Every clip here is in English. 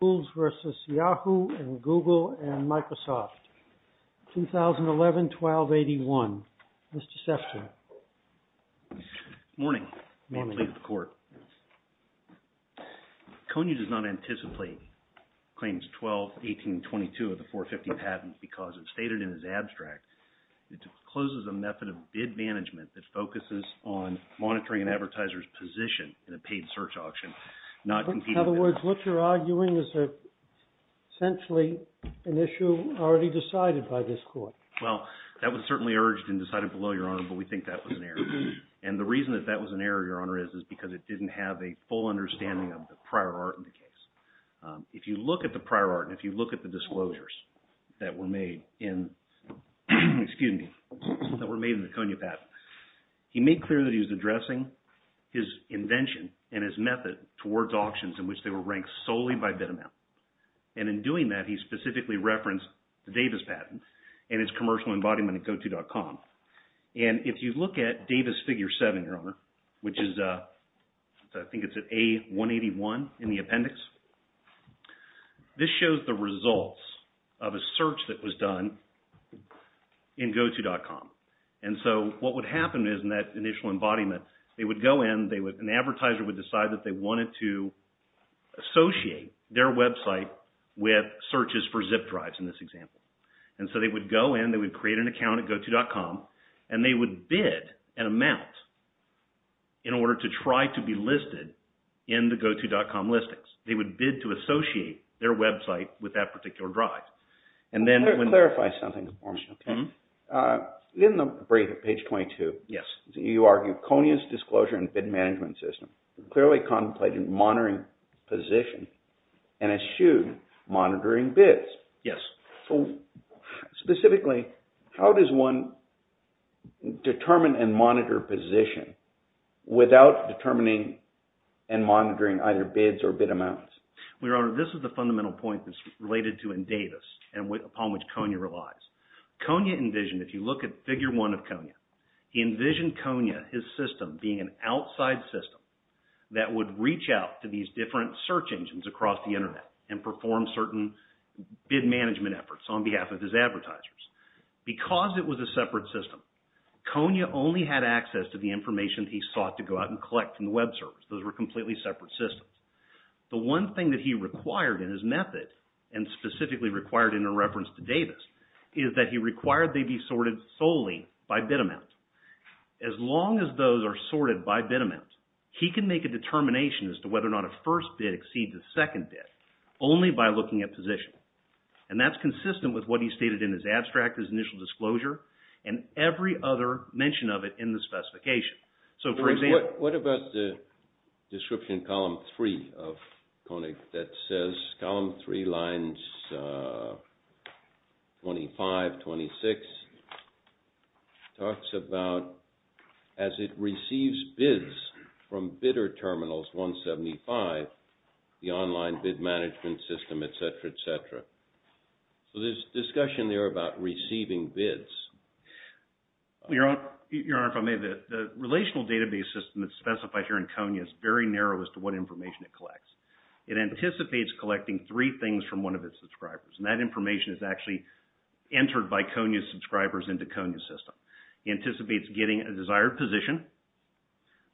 v. YAHOO and GOOGLE and MICROSOFT, 2011-12-81. Mr. Sefton. Good morning. May I plead with the Court? Kony does not anticipate Claims 12-18-22 of the 450 patent because, as stated in his abstract, it encloses a method of bid management that focuses on monitoring an advertiser's position in a paid search auction, In other words, what you're arguing is essentially an issue already decided by this Court. Well, that was certainly urged and decided below, Your Honor, but we think that was an error. And the reason that that was an error, Your Honor, is because it didn't have a full understanding of the prior art in the case. If you look at the prior art and if you look at the disclosures that were made in the Kony patent, he made clear that he was addressing his invention and his method towards auctions in which they were ranked solely by bid amount. And in doing that, he specifically referenced the Davis patent and its commercial embodiment at GOTO.com. And if you look at Davis Figure 7, Your Honor, which is, I think it's at A181 in the appendix, this shows the results of a search that was done in GOTO.com. And so what would happen is in that initial embodiment, they would go in, an advertiser would decide that they wanted to associate their website with searches for zip drives in this example. And so they would go in, they would create an account at GOTO.com, and they would bid an amount in order to try to be listed in the GOTO.com listings. They would bid to associate their website with that particular drive. Let me clarify something for me. In the brief at page 22, you argue Kony's disclosure and bid management system clearly contemplated monitoring position and eschewed monitoring bids. Yes. Specifically, how does one determine and monitor position without determining and monitoring either bids or bid amounts? Your Honor, this is the fundamental point that's related to Davis and upon which Kony relies. Kony envisioned, if you look at Figure 1 of Kony, he envisioned Kony, his system, being an outside system that would reach out to these different search engines across the Internet and perform certain bid management efforts on behalf of his advertisers. Because it was a separate system, Kony only had access to the information he sought to go out and collect from the web servers. Those were completely separate systems. The one thing that he required in his method, and specifically required in a reference to Davis, is that he required they be sorted solely by bid amount. As long as those are sorted by bid amount, he can make a determination as to whether or not a first bid exceeds a second bid only by looking at position. And that's consistent with what he stated in his abstract, his initial disclosure, and every other mention of it in the specification. What about the description in Column 3 of Kony that says, Column 3, Lines 25, 26, talks about as it receives bids from bidder terminals 175, the online bid management system, etc., etc. So there's discussion there about receiving bids. Your Honor, if I may, the relational database system that's specified here in Kony is very narrow as to what information it collects. It anticipates collecting three things from one of its subscribers, and that information is actually entered by Kony's subscribers into Kony's system. It anticipates getting a desired position,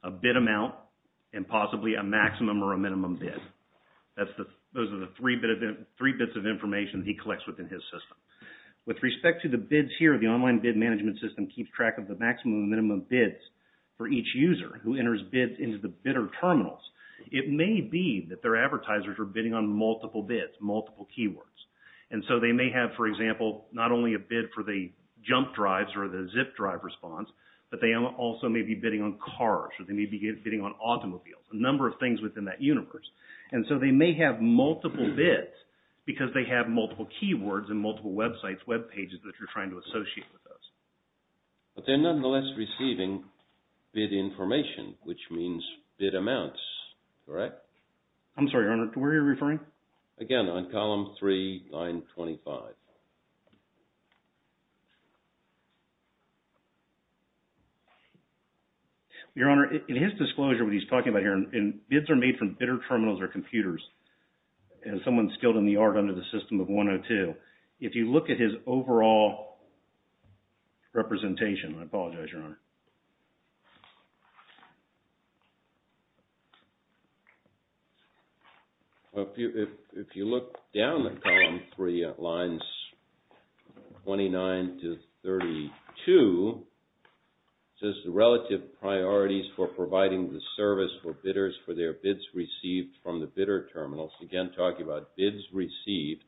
a bid amount, and possibly a maximum or a minimum bid. Those are the three bits of information he collects within his system. With respect to the bids here, the online bid management system keeps track of the maximum and minimum bids for each user who enters bids into the bidder terminals. It may be that their advertisers are bidding on multiple bids, multiple keywords. And so they may have, for example, not only a bid for the jump drives or the zip drive response, but they also may be bidding on cars or they may be bidding on automobiles, a number of things within that universe. And so they may have multiple bids because they have multiple keywords and multiple websites, web pages, that you're trying to associate with those. But they're nonetheless receiving bid information, which means bid amounts, correct? I'm sorry, Your Honor, to where you're referring? Again, on column 3, line 25. Your Honor, in his disclosure, what he's talking about here, and bids are made from bidder terminals or computers, as someone skilled in the art under the system of 102. If you look at his overall representation, I apologize, Your Honor. If you look down at column 3, lines 29 to 32, it says the relative priorities for providing the service for bidders for their bids received from the bidder terminals, again talking about bids received,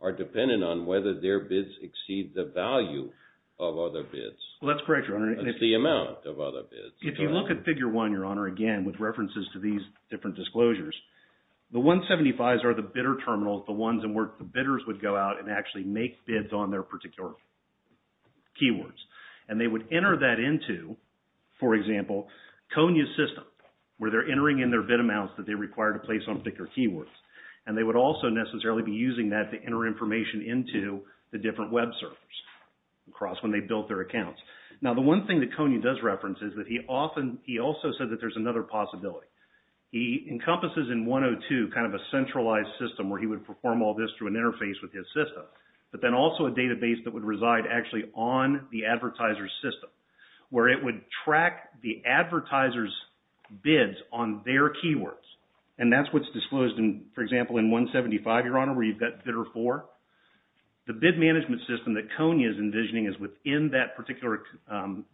are dependent on whether their bids exceed the value of other bids. Well, that's correct, Your Honor. That's the amount of other bids. If you look at figure 1, Your Honor, again, with references to these different disclosures, the 175s are the bidder terminals, the ones in which the bidders would go out and actually make bids on their particular keywords. And they would enter that into, for example, Konya's system where they're entering in their bid amounts that they require to place on particular keywords. And they would also necessarily be using that to enter information into the different web servers across when they built their accounts. Now, the one thing that Konya does reference is that he also said that there's another possibility. He encompasses in 102 kind of a centralized system where he would perform all this through an interface with his system, but then also a database that would reside actually on the advertiser's system where it would track the advertiser's bids on their keywords. And that's what's disclosed, for example, in 175, Your Honor, where you've got bidder 4. The bid management system that Konya is envisioning is within that particular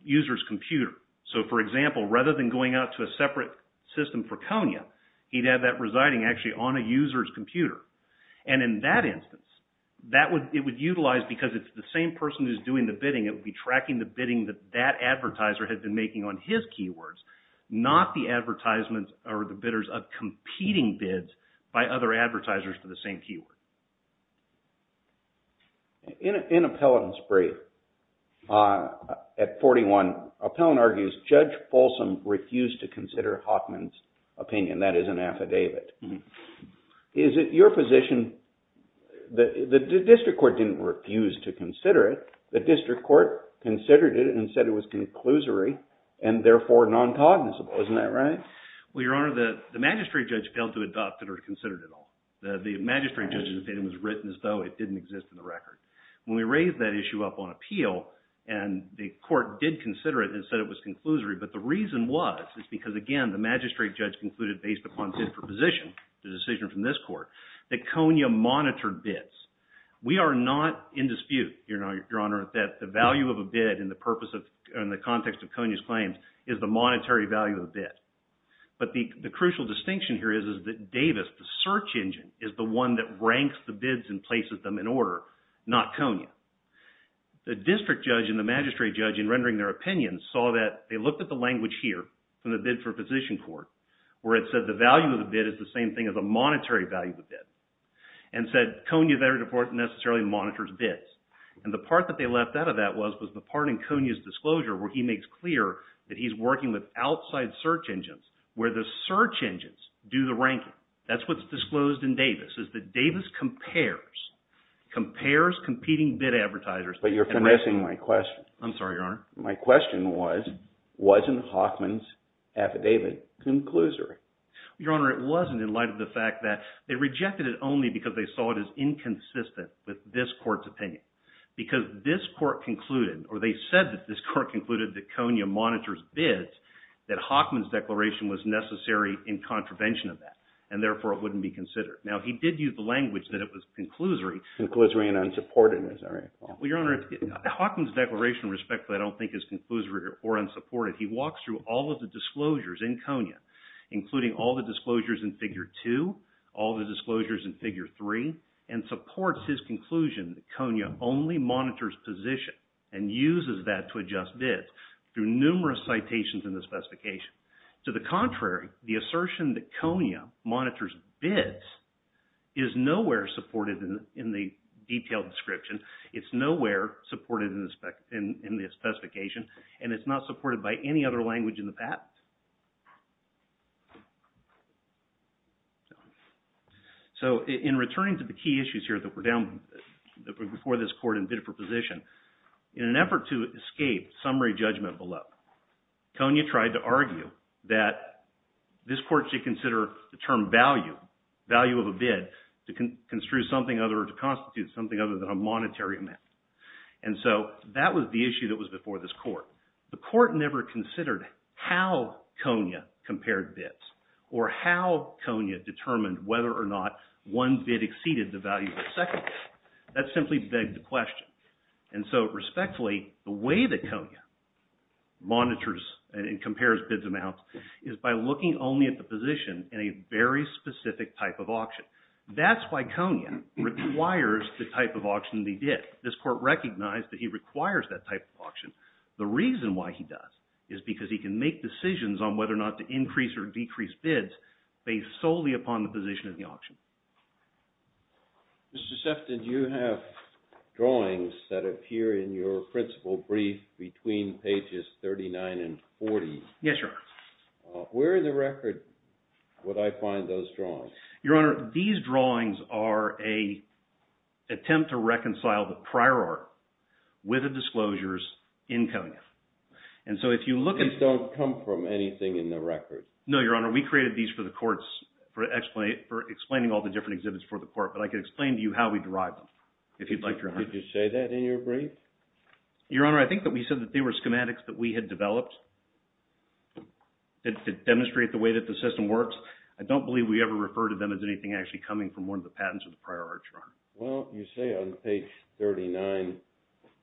user's computer. So, for example, rather than going out to a separate system for Konya, he'd have that residing actually on a user's computer. And in that instance, it would utilize, because it's the same person who's doing the bidding, it would be tracking the bidding that that advertiser had been making on his keywords, not the bidders of competing bids by other advertisers for the same keyword. In Appellant's brief at 41, Appellant argues Judge Folsom refused to consider Hoffman's opinion. That is an affidavit. Is it your position that the district court didn't refuse to consider it, the district court considered it and said it was conclusory and therefore non-cognizable. Isn't that right? Well, Your Honor, the magistrate judge failed to adopt it or consider it at all. The magistrate judge's opinion was written as though it didn't exist in the record. When we raised that issue up on appeal and the court did consider it and said it was conclusory, but the reason was, is because, again, the magistrate judge concluded based upon his proposition, the decision from this court, that Konya monitored bids. We are not in dispute, Your Honor, that the value of a bid in the context of Konya's claims is the monetary value of the bid. But the crucial distinction here is that Davis, the search engine, is the one that ranks the bids and places them in order, not Konya. The district judge and the magistrate judge, in rendering their opinions, saw that they looked at the language here from the bid for position court, where it said the value of the bid is the same thing as the monetary value of the bid, and said Konya, therefore, necessarily monitors bids. And the part that they left out of that was the part in Konya's disclosure where he makes clear that he's working with outside search engines where the search engines do the ranking. That's what's disclosed in Davis, is that Davis compares competing bid advertisers. But you're finessing my question. I'm sorry, Your Honor. My question was, wasn't Hoffman's affidavit conclusory? Your Honor, it wasn't in light of the fact that they rejected it only because they saw it as inconsistent with this court's opinion. Because this court concluded, or they said that this court concluded that Konya monitors bids, that Hoffman's declaration was necessary in contravention of that, and therefore it wouldn't be considered. Now, he did use the language that it was conclusory. Conclusory and unsupported, is that right? Well, Your Honor, Hoffman's declaration, respectfully, I don't think is conclusory or unsupported. He walks through all of the disclosures in Konya, including all the disclosures in Figure 2, all the disclosures in Figure 3, and supports his conclusion that Konya only monitors position and uses that to adjust bids through numerous citations in the specification. To the contrary, the assertion that Konya monitors bids is nowhere supported in the detailed description. It's nowhere supported in the specification, and it's not supported by any other language in the patent. So, in returning to the key issues here that were down before this court in bid for position, in an effort to escape summary judgment below, Konya tried to argue that this court should consider the term value, value of a bid, to construe something other, to constitute something other than a monetary amount. And so, that was the issue that was before this court. The court never considered how Konya compared bids or how Konya determined whether or not one bid exceeded the value of a second bid. That simply begged the question. And so, respectfully, the way that Konya monitors and compares bids amounts is by looking only at the position in a very specific type of auction. That's why Konya requires the type of auction that he did. This court recognized that he requires that type of auction. The reason why he does is because he can make decisions on whether or not to increase or decrease bids based solely upon the position of the auction. Mr. Sefton, you have drawings that appear in your principal brief between pages 39 and 40. Yes, Your Honor. Where in the record would I find those drawings? Your Honor, these drawings are an attempt to reconcile the prior art with the disclosures in Konya. And so, if you look at... These don't come from anything in the record. No, Your Honor. We created these for the courts, for explaining all the different exhibits for the court. But I could explain to you how we derived them, if you'd like, Your Honor. Did you say that in your brief? Your Honor, I think that we said that they were schematics that we had developed to demonstrate the way that the system works. I don't believe we ever referred to them as anything actually coming from one of the patents or the prior art, Your Honor. Well, you say on page 39,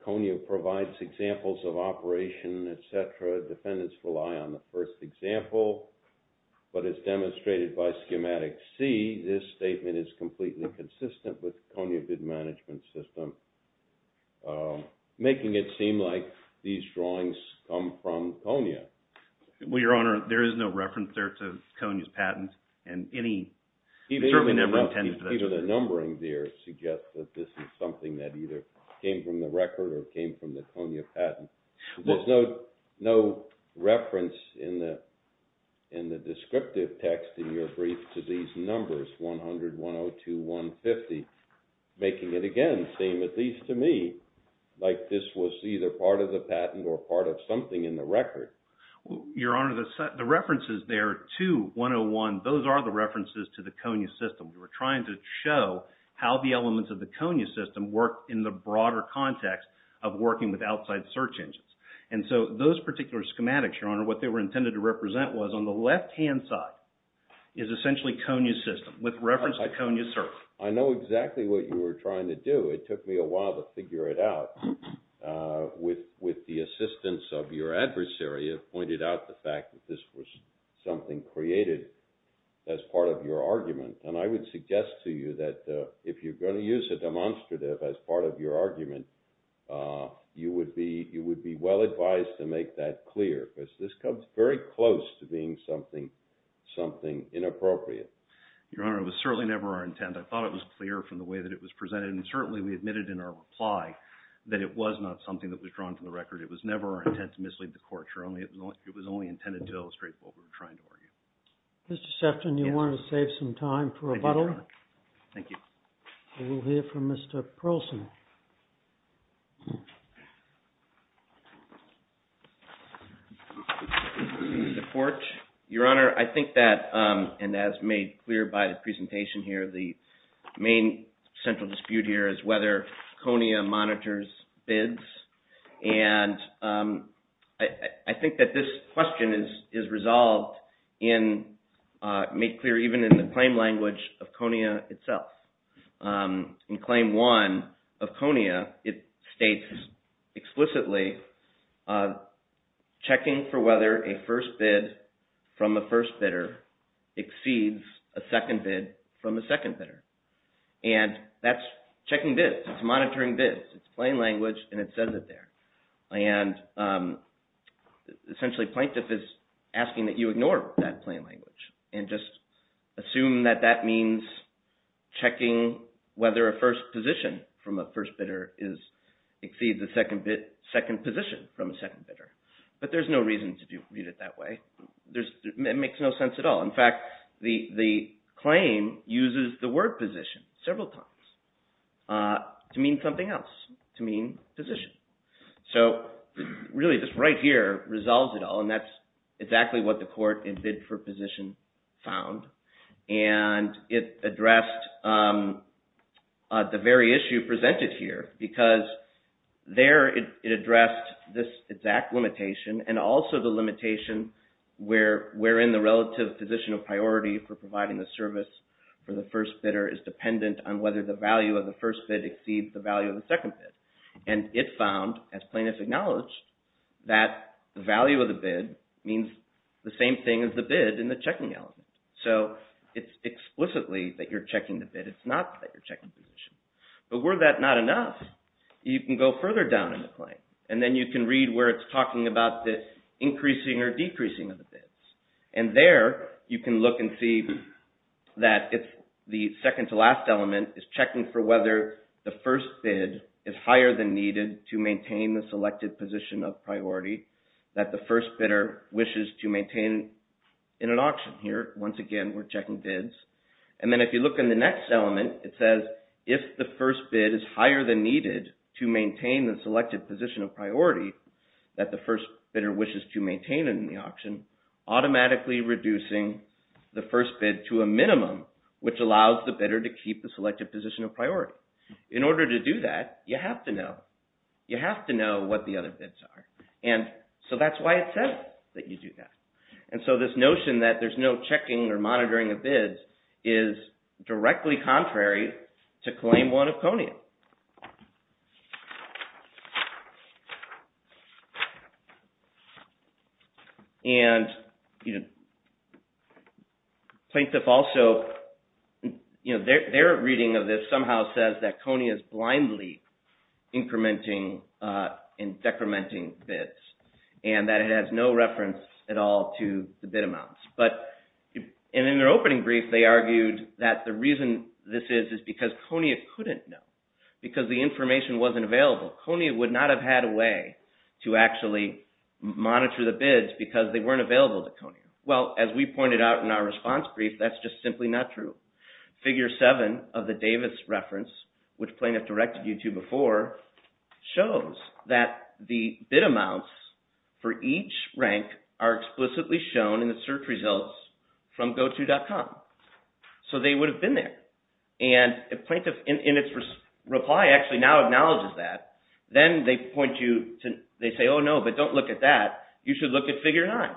Konya provides examples of operation, etc. Defendants rely on the first example. But as demonstrated by schematic C, this statement is completely consistent with the Konya bid management system, Well, Your Honor, there is no reference there to Konya's patent, and any... Even the numbering there suggests that this is something that either came from the record or came from the Konya patent. There's no reference in the descriptive text in your brief to these numbers, 100, 102, 150, making it, again, seem at least to me like this was either part of the patent or part of something in the record. Your Honor, the references there, 2, 101, those are the references to the Konya system. We were trying to show how the elements of the Konya system work in the broader context of working with outside search engines. And so those particular schematics, Your Honor, what they were intended to represent was on the left-hand side is essentially Konya's system, with reference to Konya's search. I know exactly what you were trying to do. It took me a while to figure it out. With the assistance of your adversary, it pointed out the fact that this was something created as part of your argument. And I would suggest to you that if you're going to use a demonstrative as part of your argument, you would be well advised to make that clear, because this comes very close to being something inappropriate. Your Honor, it was certainly never our intent. I thought it was clear from the way that it was presented, and certainly we admitted in our reply that it was not something that was drawn from the record. It was never our intent to mislead the court. It was only intended to illustrate what we were trying to argue. Mr. Sefton, do you want to save some time for rebuttal? Thank you, Your Honor. We will hear from Mr. Pearlson. Mr. Fort, Your Honor, I think that, and as made clear by the presentation here, the main central dispute here is whether Konya monitors bids. And I think that this question is resolved and made clear even in the claim language of Konya itself. In Claim 1 of Konya, it states explicitly, checking for whether a first bid from the first bidder exceeds a second bid from the second bidder. And that's checking bids. It's monitoring bids. It's plain language, and it says it there. And essentially, plaintiff is asking that you ignore that plain language and just assume that that means checking whether a first position from a first bidder exceeds a second position from a second bidder. But there's no reason to read it that way. It makes no sense at all. In fact, the claim uses the word position several times to mean something else, to mean position. So really, this right here resolves it all, and that's exactly what the court in bid for position found. And it addressed the very issue presented here because there it addressed this exact limitation and also the limitation wherein the relative position of priority for providing the service for the first bidder is dependent on whether the value of the first bid exceeds the value of the second bid. And it found, as plaintiff acknowledged, that the value of the bid means the same thing as the bid in the checking element. So it's explicitly that you're checking the bid. It's not that you're checking position. But were that not enough, you can go further down in the claim, and then you can read where it's talking about the increasing or decreasing of the bids. And there you can look and see that if the second to last element is checking for whether the first bid is higher than needed to maintain the selected position of priority that the first bidder wishes to maintain in an auction. Here, once again, we're checking bids. And then if you look in the next element, it says if the first bid is higher than needed to maintain the selected position of priority that the first bidder wishes to maintain in the auction, automatically reducing the first bid to a minimum, which allows the bidder to keep the selected position of priority. In order to do that, you have to know. You have to know what the other bids are. And so that's why it says that you do that. And so this notion that there's no checking or monitoring of bids is directly contrary to Claim 1 of CONIA. And plaintiff also, their reading of this somehow says that CONIA is blindly incrementing and decrementing bids. And that it has no reference at all to the bid amounts. But in their opening brief, they argued that the reason this is is because CONIA couldn't know. Because the information wasn't available. CONIA would not have had a way to actually monitor the bids because they weren't available to CONIA. Well, as we pointed out in our response brief, that's just simply not true. Figure 7 of the Davis reference, which plaintiff directed you to before, shows that the bid amounts for each rank are explicitly shown in the search results from goto.com. So they would have been there. And the plaintiff in its reply actually now acknowledges that. Then they point you to – they say, oh no, but don't look at that. You should look at figure 9.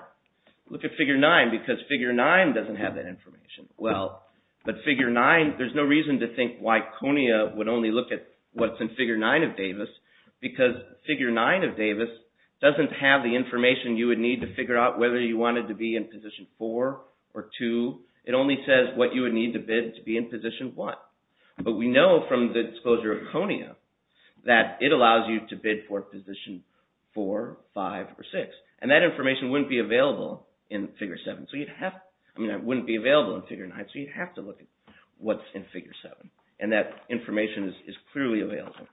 Look at figure 9 because figure 9 doesn't have that information. Well, but figure 9 – there's no reason to think why CONIA would only look at what's in figure 9 of Davis because figure 9 of Davis doesn't have the information you would need to figure out whether you wanted to be in position 4 or 2. It only says what you would need to bid to be in position 1. But we know from the disclosure of CONIA that it allows you to bid for position 4, 5, or 6. And that information wouldn't be available in figure 7. I mean, it wouldn't be available in figure 9, so you'd have to look at what's in figure 7. And that information is clearly available.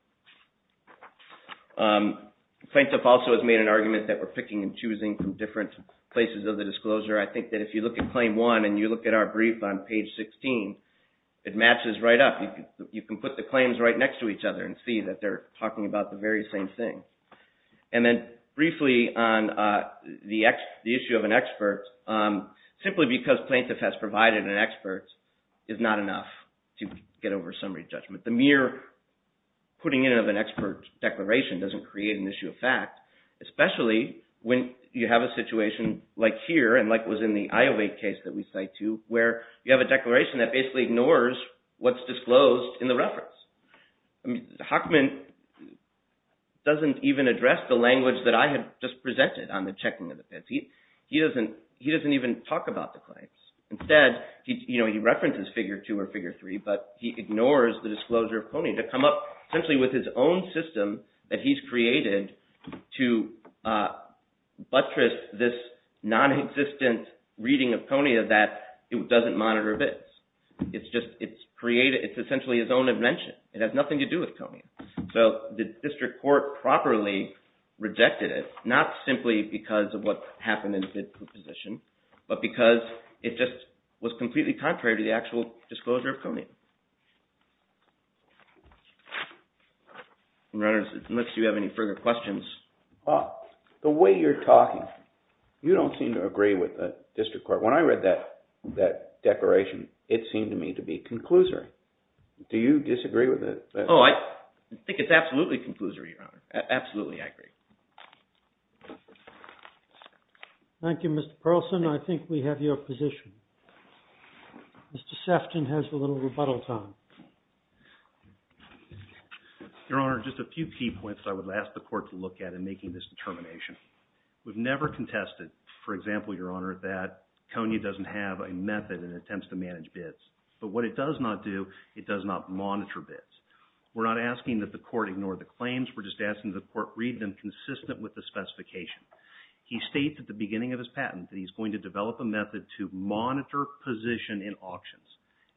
Plaintiff also has made an argument that we're picking and choosing from different places of the disclosure. I think that if you look at claim 1 and you look at our brief on page 16, it matches right up. You can put the claims right next to each other and see that they're talking about the very same thing. And then briefly on the issue of an expert, simply because plaintiff has provided an expert is not enough to get over summary judgment. The mere putting in of an expert declaration doesn't create an issue of fact, especially when you have a situation like here and like it was in the Iowa case that we cite to, where you have a declaration that basically ignores what's disclosed in the reference. I mean, Hockman doesn't even address the language that I had just presented on the checking of the bids. He doesn't even talk about the claims. Instead, he references figure 2 or figure 3, but he ignores the disclosure of CONIA to come up essentially with his own system that he's created to buttress this non-existent reading of CONIA that it doesn't monitor bids. It's just – it's created – it's essentially his own invention. It has nothing to do with CONIA. So, the district court properly rejected it, not simply because of what happened in the bid proposition, but because it just was completely contrary to the actual disclosure of CONIA. Unless you have any further questions. The way you're talking, you don't seem to agree with the district court. When I read that declaration, it seemed to me to be conclusory. Do you disagree with it? Oh, I think it's absolutely conclusory, Your Honor. Absolutely, I agree. Thank you, Mr. Perlson. I think we have your position. Mr. Sefton has a little rebuttal time. Your Honor, just a few key points I would ask the court to look at in making this determination. We've never contested, for example, Your Honor, that CONIA doesn't have a method in attempts to manage bids. But what it does not do, it does not monitor bids. We're not asking that the court ignore the claims. We're just asking that the court read them consistent with the specification. He states at the beginning of his patent that he's going to develop a method to monitor position in auctions.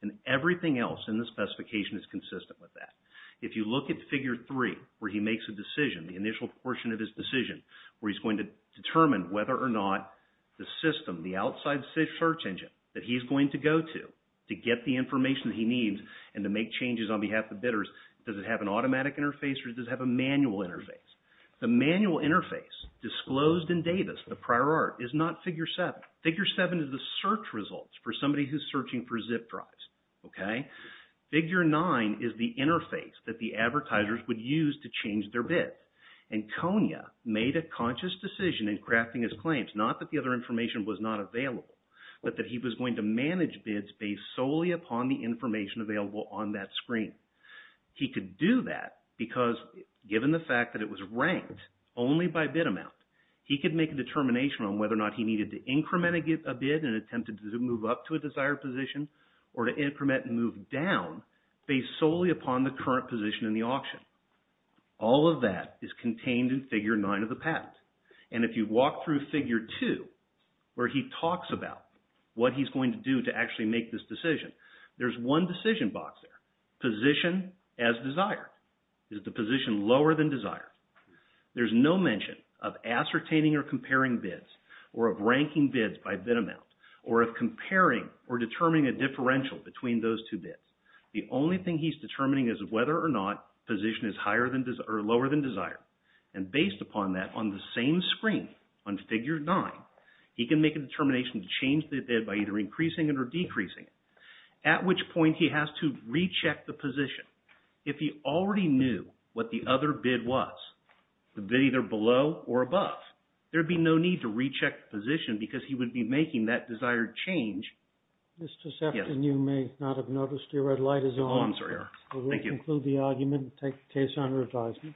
And everything else in the specification is consistent with that. If you look at Figure 3 where he makes a decision, the initial portion of his decision, where he's going to determine whether or not the system, the outside search engine that he's going to go to to get the information he needs and to make changes on behalf of bidders, does it have an automatic interface or does it have a manual interface? The manual interface disclosed in Davis, the prior art, is not Figure 7. Figure 7 is the search results for somebody who's searching for zip drives. Figure 9 is the interface that the advertisers would use to change their bid. And CONIA made a conscious decision in crafting his claims, not that the other information was not available, but that he was going to manage bids based solely upon the information available on that screen. He could do that because given the fact that it was ranked only by bid amount, he could make a determination on whether or not he needed to increment a bid and attempted to move up to a desired position or to increment and move down based solely upon the current position in the auction. All of that is contained in Figure 9 of the patent. And if you walk through Figure 2 where he talks about what he's going to do to actually make this decision, there's one decision box there, position as desired. Is the position lower than desired? There's no mention of ascertaining or comparing bids or of ranking bids by bid amount or of comparing or determining a differential between those two bids. The only thing he's determining is whether or not the position is lower than desired. And based upon that on the same screen on Figure 9, he can make a determination to change the bid by either increasing it or decreasing it, at which point he has to recheck the position. If he already knew what the other bid was, the bid either below or above, there would be no need to recheck the position because he would be making that desired change. Mr. Sefton, you may not have noticed your red light is on. Oh, I'm sorry. Thank you. We will conclude the argument and take the case under advisement.